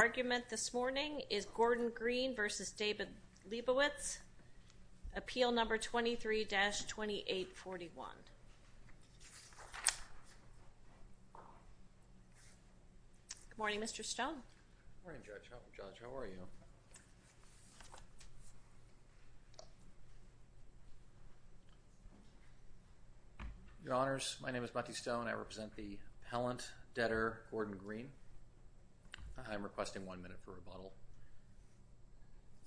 Argument this morning is Gordon Green v. David Leibowitz, Appeal No. 23-2841. Good morning, Mr. Stone. Good morning, Judge. How are you? Your Honors, my name is Matthew Stone. I represent the appellant, debtor Gordon Green. I'm requesting one minute for rebuttal.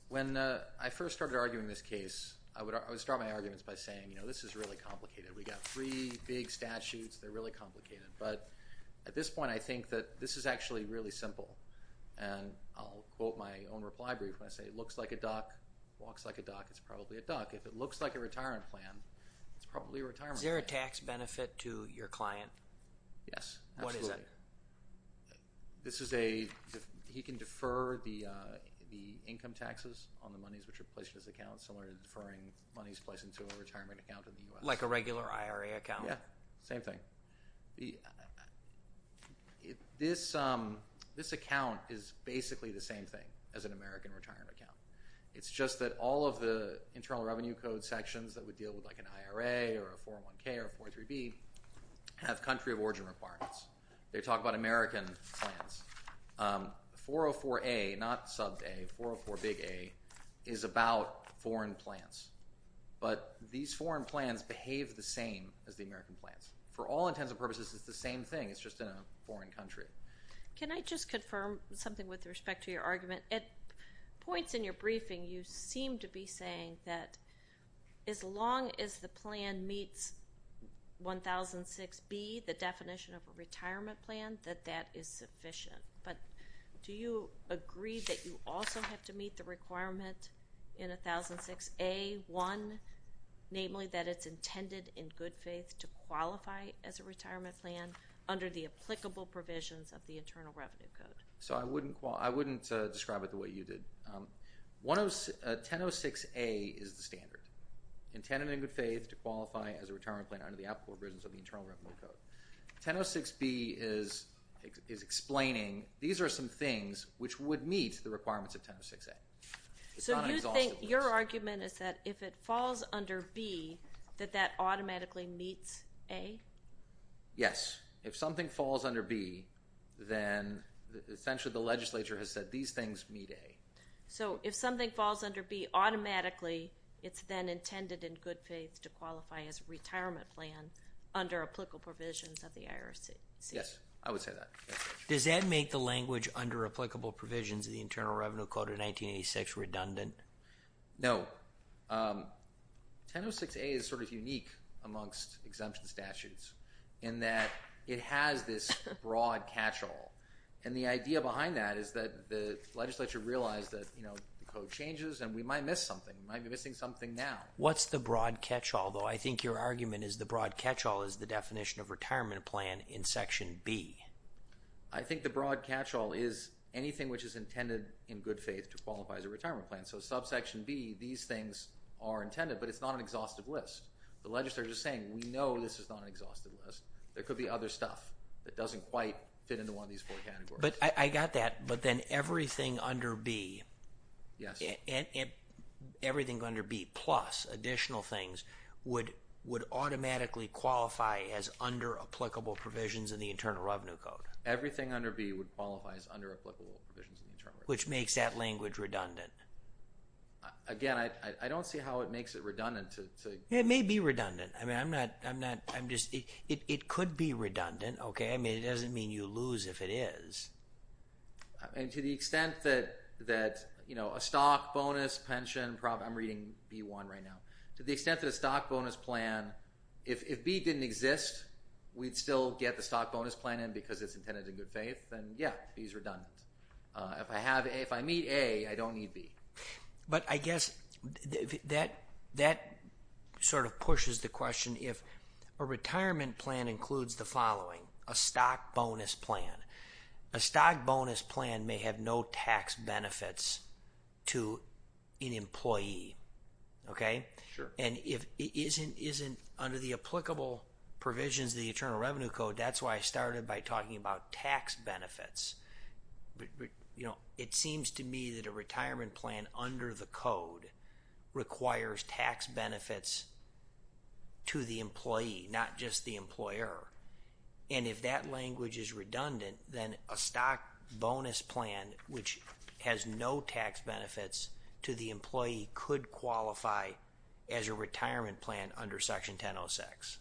When I first started arguing this case, I would start my arguments by saying, you know, this is really complicated. We've got three big statutes. They're really complicated. But at this point, I think that this is actually really simple. And I'll quote my own reply brief when I say it looks like a duck, walks like a duck, it's probably a duck. If it looks like a retirement plan, it's probably a retirement plan. Is there a tax benefit to your client? Yes, absolutely. What is it? This is a – he can defer the income taxes on the monies which are placed in his account, similar to deferring monies placed into a retirement account in the U.S. Like a regular IRA account? Yeah, same thing. This account is basically the same thing as an American retirement account. It's just that all of the internal revenue code sections that would deal with, like, an IRA or a 401K or a 403B have country of origin requirements. They talk about American plans. 404A, not sub A, 404 big A, is about foreign plans. But these foreign plans behave the same as the American plans. For all intents and purposes, it's the same thing. It's just in a foreign country. Can I just confirm something with respect to your argument? At points in your briefing, you seem to be saying that as long as the plan meets 1006B, the definition of a retirement plan, that that is sufficient. But do you agree that you also have to meet the requirement in 1006A-1, namely that it's intended in good faith to qualify as a retirement plan under the applicable provisions of the Internal Revenue Code? So I wouldn't describe it the way you did. 1006A is the standard, intended in good faith to qualify as a retirement plan under the applicable provisions of the Internal Revenue Code. 1006B is explaining these are some things which would meet the requirements of 1006A. So you think your argument is that if it falls under B, that that automatically meets A? Yes. If something falls under B, then essentially the legislature has said these things meet A. So if something falls under B, automatically it's then intended in good faith to qualify as a retirement plan under applicable provisions of the IRCC? Yes, I would say that. Does that make the language under applicable provisions of the Internal Revenue Code of 1986 redundant? No. 1006A is sort of unique amongst exemption statutes in that it has this broad catch-all. And the idea behind that is that the legislature realized that the code changes and we might miss something. We might be missing something now. What's the broad catch-all, though? I think your argument is the broad catch-all is the definition of retirement plan in Section B. I think the broad catch-all is anything which is intended in good faith to qualify as a retirement plan. So in Subsection B, these things are intended, but it's not an exhaustive list. The legislature is saying, we know this is not an exhaustive list. There could be other stuff that doesn't quite fit into one of these four categories. I got that, but then everything under B plus additional things would automatically qualify as under applicable provisions of the Internal Revenue Code? Which makes that language redundant. Again, I don't see how it makes it redundant. It may be redundant. It could be redundant. It doesn't mean you lose if it is. To the extent that a stock bonus, pension, I'm reading B-1 right now. To the extent that a stock bonus plan, if B didn't exist, we'd still get the stock bonus plan in If I meet A, I don't need B. But I guess that sort of pushes the question, if a retirement plan includes the following, a stock bonus plan, a stock bonus plan may have no tax benefits to an employee. Okay? Sure. And if it isn't under the applicable provisions of the Internal Revenue Code, that's why I started by talking about tax benefits. It seems to me that a retirement plan under the code requires tax benefits to the employee, not just the employer. And if that language is redundant, then a stock bonus plan, which has no tax benefits to the employee, could qualify as a retirement plan under Section 1006.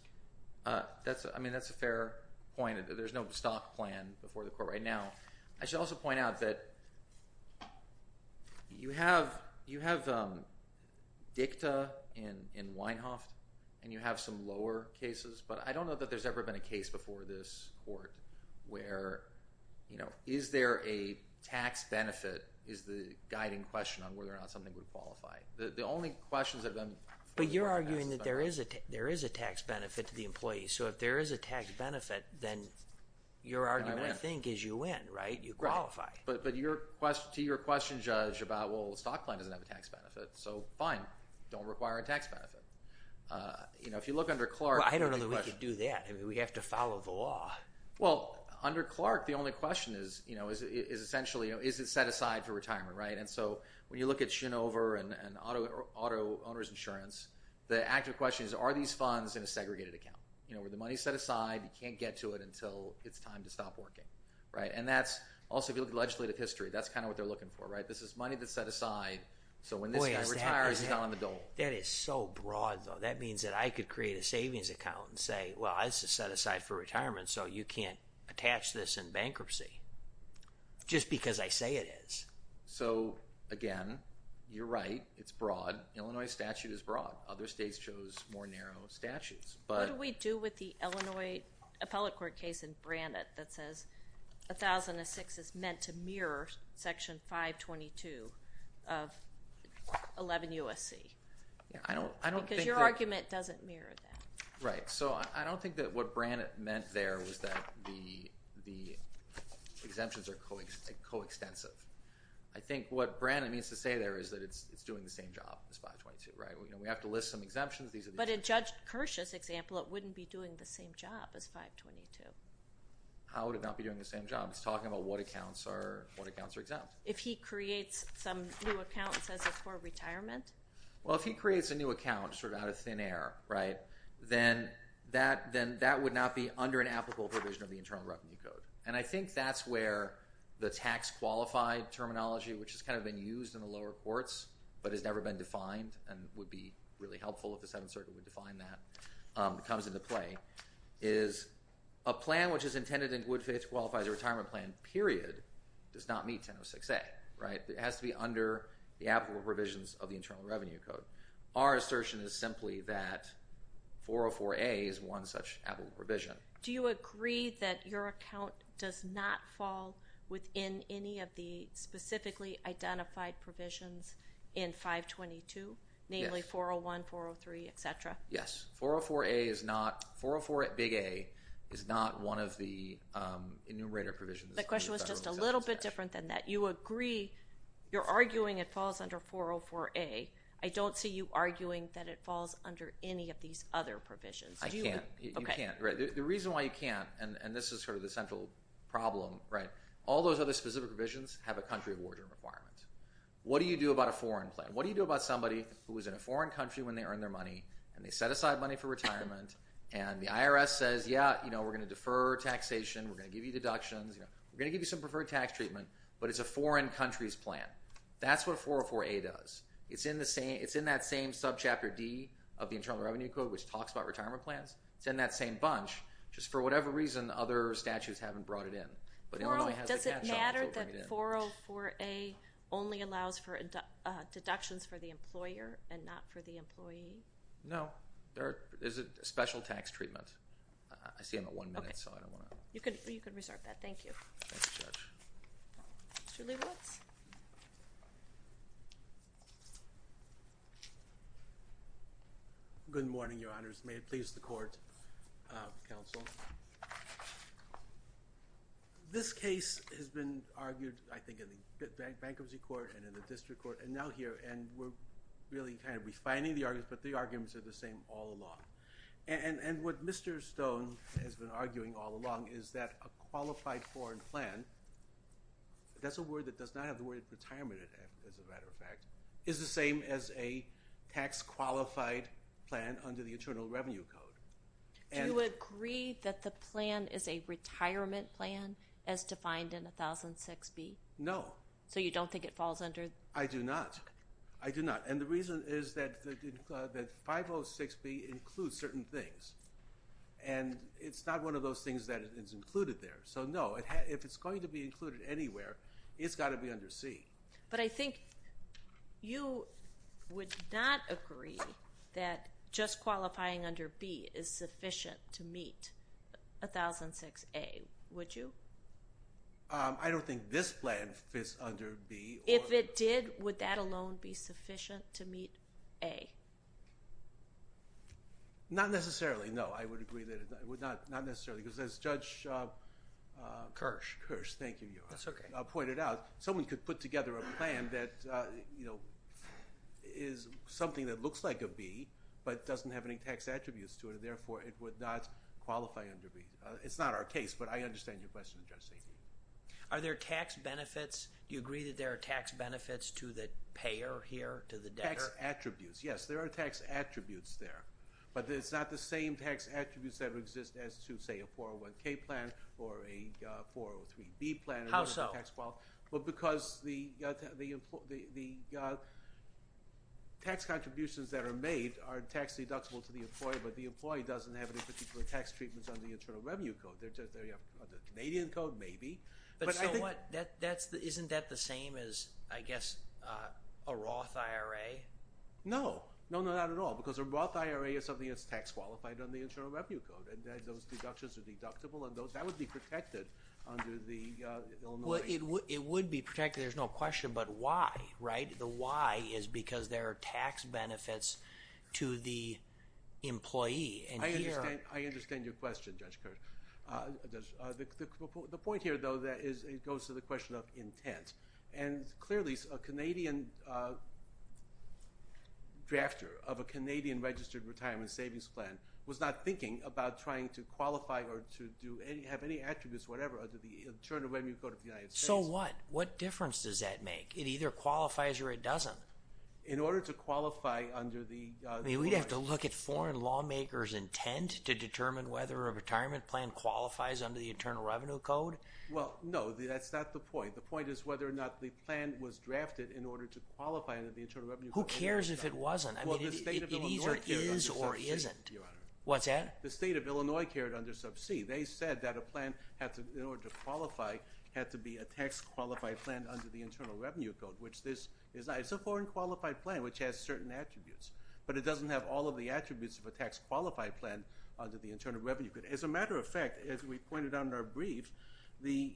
I mean, that's a fair point. There's no stock plan before the court right now. I should also point out that you have DICTA in Weinhoft, and you have some lower cases, but I don't know that there's ever been a case before this court where, you know, is there a tax benefit is the guiding question on whether or not something would qualify. The only questions that have been— But you're arguing that there is a tax benefit to the employee. So if there is a tax benefit, then your argument, I think, is you win, right? You qualify. But to your question, Judge, about, well, the stock plan doesn't have a tax benefit. So fine. Don't require a tax benefit. You know, if you look under Clark— Well, I don't know that we could do that. I mean, we have to follow the law. Well, under Clark, the only question is, you know, is it set aside for retirement, right? And so when you look at Shinover and auto owner's insurance, the actual question is, are these funds in a segregated account, you know, where the money's set aside, you can't get to it until it's time to stop working, right? And that's—also, if you look at legislative history, that's kind of what they're looking for, right? This is money that's set aside, so when this guy retires, he's not on the dole. That is so broad, though. That means that I could create a savings account and say, well, this is set aside for retirement, so you can't attach this in bankruptcy just because I say it is. So, again, you're right. It's broad. Illinois statute is broad. Other states chose more narrow statutes, but— What do we do with the Illinois appellate court case in Brannett that says 1006 is meant to mirror Section 522 of 11 U.S.C.? I don't think that— Because your argument doesn't mirror that. Right. So I don't think that what Brannett meant there was that the exemptions are coextensive. I think what Brannett means to say there is that it's doing the same job as 522, right? You know, we have to list some exemptions. But in Judge Kirsch's example, it wouldn't be doing the same job as 522. How would it not be doing the same job? He's talking about what accounts are exempt. If he creates some new account and says it's for retirement? Well, if he creates a new account sort of out of thin air, right, then that would not be under an applicable provision of the Internal Revenue Code. And I think that's where the tax-qualified terminology, which has kind of been used in the lower courts but has never been defined and would be really helpful if the Seventh Circuit would define that, comes into play, is a plan which is intended in good faith to qualify as a retirement plan, period, does not meet 1006A, right? It has to be under the applicable provisions of the Internal Revenue Code. Our assertion is simply that 404A is one such applicable provision. Do you agree that your account does not fall within any of the specifically identified provisions in 522, namely 401, 403, et cetera? Yes. 404A is not 404 big A is not one of the enumerator provisions. The question was just a little bit different than that. You agree you're arguing it falls under 404A. I don't see you arguing that it falls under any of these other provisions. I can't. You can't, right? The reason why you can't, and this is sort of the central problem, right, all those other specific provisions have a country of origin requirement. What do you do about a foreign plan? What do you do about somebody who is in a foreign country when they earn their money and they set aside money for retirement and the IRS says, yeah, you know, we're going to defer taxation, we're going to give you deductions, we're going to give you some preferred tax treatment, but it's a foreign country's plan. That's what 404A does. It's in that same subchapter D of the Internal Revenue Code which talks about retirement plans. It's in that same bunch just for whatever reason other statutes haven't brought it in. Does it matter that 404A only allows for deductions for the employer and not for the employee? No. There is a special tax treatment. I see I'm at one minute, so I don't want to. You can reserve that. Thank you. Thank you, Judge. Mr. Leibowitz. Good morning, Your Honors. May it please the Court, Counsel. This case has been argued I think in the Bankruptcy Court and in the District Court and now here and we're really kind of refining the arguments, but the arguments are the same all along. And what Mr. Stone has been arguing all along is that a qualified foreign plan, that's a word that does not have the word retirement in it as a matter of fact, is the same as a tax qualified plan under the Internal Revenue Code. Do you agree that the plan is a retirement plan as defined in 1006B? No. So you don't think it falls under? I do not. I do not. And the reason is that 506B includes certain things and it's not one of those things that is included there. So, no, if it's going to be included anywhere, it's got to be under C. But I think you would not agree that just qualifying under B is sufficient to meet 1006A, would you? I don't think this plan fits under B. If it did, would that alone be sufficient to meet A? Not necessarily, no, I would agree that it would not necessarily because as Judge Kirsch pointed out, someone could put together a plan that is something that looks like a B but doesn't have any tax attributes to it, and therefore it would not qualify under B. It's not our case, but I understand your question, Judge Stanton. Are there tax benefits? Do you agree that there are tax benefits to the payer here, to the debtor? Tax attributes, yes. There are tax attributes there. But it's not the same tax attributes that exist as to, say, a 401K plan or a 403B plan. How so? Well, because the tax contributions that are made are tax deductible to the employee, but the employee doesn't have any particular tax treatments under the Internal Revenue Code. Under the Canadian Code, maybe. Isn't that the same as, I guess, a Roth IRA? No, not at all, because a Roth IRA is something that's tax qualified under the Internal Revenue Code, and those deductions are deductible, and that would be protected under the Illinois. Well, it would be protected, there's no question, but why, right? The why is because there are tax benefits to the employee. I understand your question, Judge Kirsch. The point here, though, is it goes to the question of intent, and clearly a Canadian drafter of a Canadian-registered retirement savings plan was not thinking about trying to qualify or to have any attributes or whatever under the Internal Revenue Code of the United States. So what? What difference does that make? It either qualifies or it doesn't. In order to qualify under the law… I mean, we'd have to look at foreign lawmakers' intent to determine whether a retirement plan qualifies under the Internal Revenue Code. Well, no, that's not the point. The point is whether or not the plan was drafted in order to qualify under the Internal Revenue Code. Who cares if it wasn't? I mean, it either is or isn't. What's that? The state of Illinois carried under sub C. They said that a plan, in order to qualify, had to be a tax-qualified plan under the Internal Revenue Code, which has certain attributes, but it doesn't have all of the attributes of a tax-qualified plan under the Internal Revenue Code. As a matter of fact, as we pointed out in our brief, the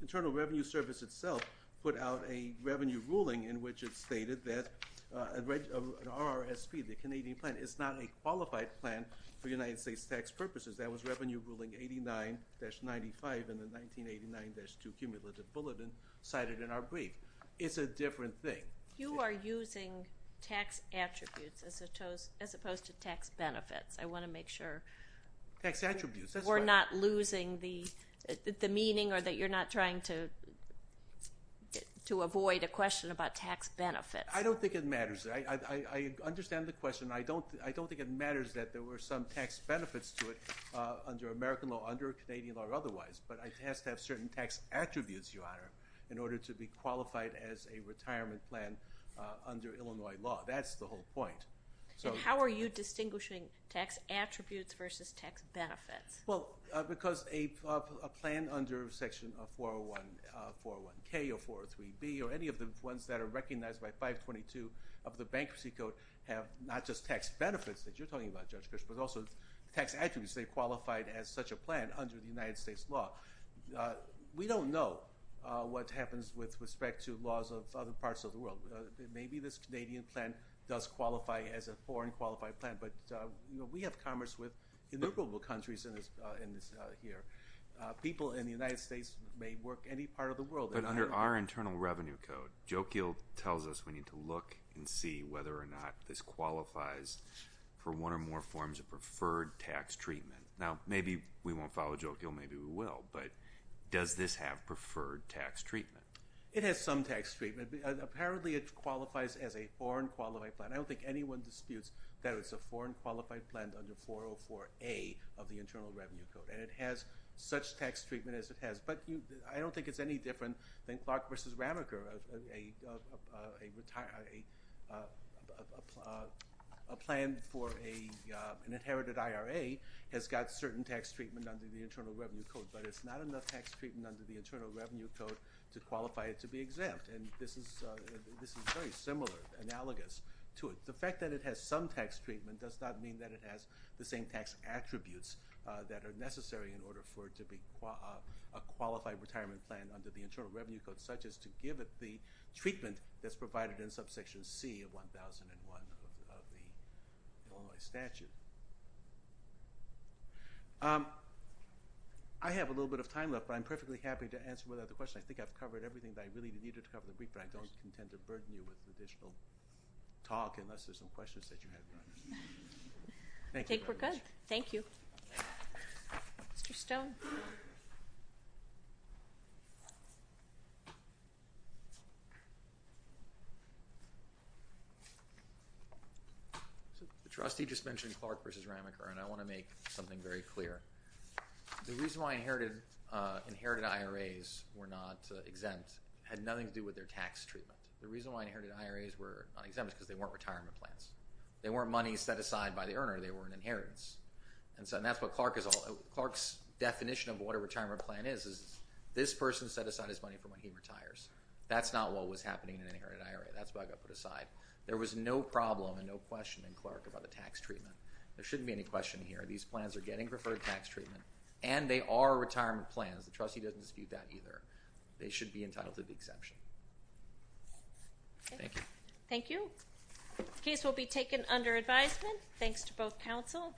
Internal Revenue Service itself put out a revenue ruling in which it stated that an RRSP, the Canadian plan, is not a qualified plan for United States tax purposes. That was Revenue Ruling 89-95 in the 1989-2 Cumulative Bulletin cited in our brief. It's a different thing. You are using tax attributes as opposed to tax benefits. I want to make sure... Tax attributes, that's right. ...we're not losing the meaning or that you're not trying to avoid a question about tax benefits. I don't think it matters. I understand the question. I don't think it matters that there were some tax benefits to it under American law, under Canadian law or otherwise, but it has to have certain tax attributes, Your Honor, in order to be qualified as a retirement plan under Illinois law. That's the whole point. How are you distinguishing tax attributes versus tax benefits? Because a plan under Section 401K or 403B or any of the ones that are recognized by 522 of the Bankruptcy Code have not just tax benefits that you're talking about, Judge Bishop, but also tax attributes. They're qualified as such a plan under the United States law. We don't know what happens with respect to laws of other parts of the world. Maybe this Canadian plan does qualify as a foreign qualified plan, but we have commerce with innumerable countries in this here. People in the United States may work any part of the world. But under our Internal Revenue Code, Jokiel tells us we need to look and see whether or not this qualifies for one or more forms of preferred tax treatment. Now, maybe we won't follow Jokiel. Maybe we will, but does this have preferred tax treatment? It has some tax treatment. Apparently, it qualifies as a foreign qualified plan. I don't think anyone disputes that it's a foreign qualified plan under 404A of the Internal Revenue Code, and it has such tax treatment as it has. But I don't think it's any different than Clark v. Ramacher. A plan for an inherited IRA has got certain tax treatment under the Internal Revenue Code, but it's not enough tax treatment under the Internal Revenue Code to qualify it to be exempt. And this is very similar, analogous to it. The fact that it has some tax treatment does not mean that it has the same tax attributes that are necessary in order for it to be a qualified retirement plan under the Internal Revenue Code, and such as to give it the treatment that's provided in subsection C of 1001 of the Illinois statute. I have a little bit of time left, but I'm perfectly happy to answer whatever other questions. I think I've covered everything that I really needed to cover in the brief, but I don't intend to burden you with additional talk unless there's some questions that you have. I think we're good. Thank you. Mr. Stone. The trustee just mentioned Clark v. Ramacher, and I want to make something very clear. The reason why inherited IRAs were not exempt had nothing to do with their tax treatment. The reason why inherited IRAs were not exempt is because they weren't retirement plans. They weren't money set aside by the earner. They were an inheritance. And that's what Clark is all about. Clark's definition of what a retirement plan is is this person set aside his money for when he retires. That's not what was happening in an inherited IRA. That's what I've got put aside. There was no problem and no question in Clark about the tax treatment. There shouldn't be any question here. These plans are getting preferred tax treatment, and they are retirement plans. The trustee doesn't dispute that either. They should be entitled to the exception. Thank you. Thank you. The case will be taken under advisement. Thanks to both counsel.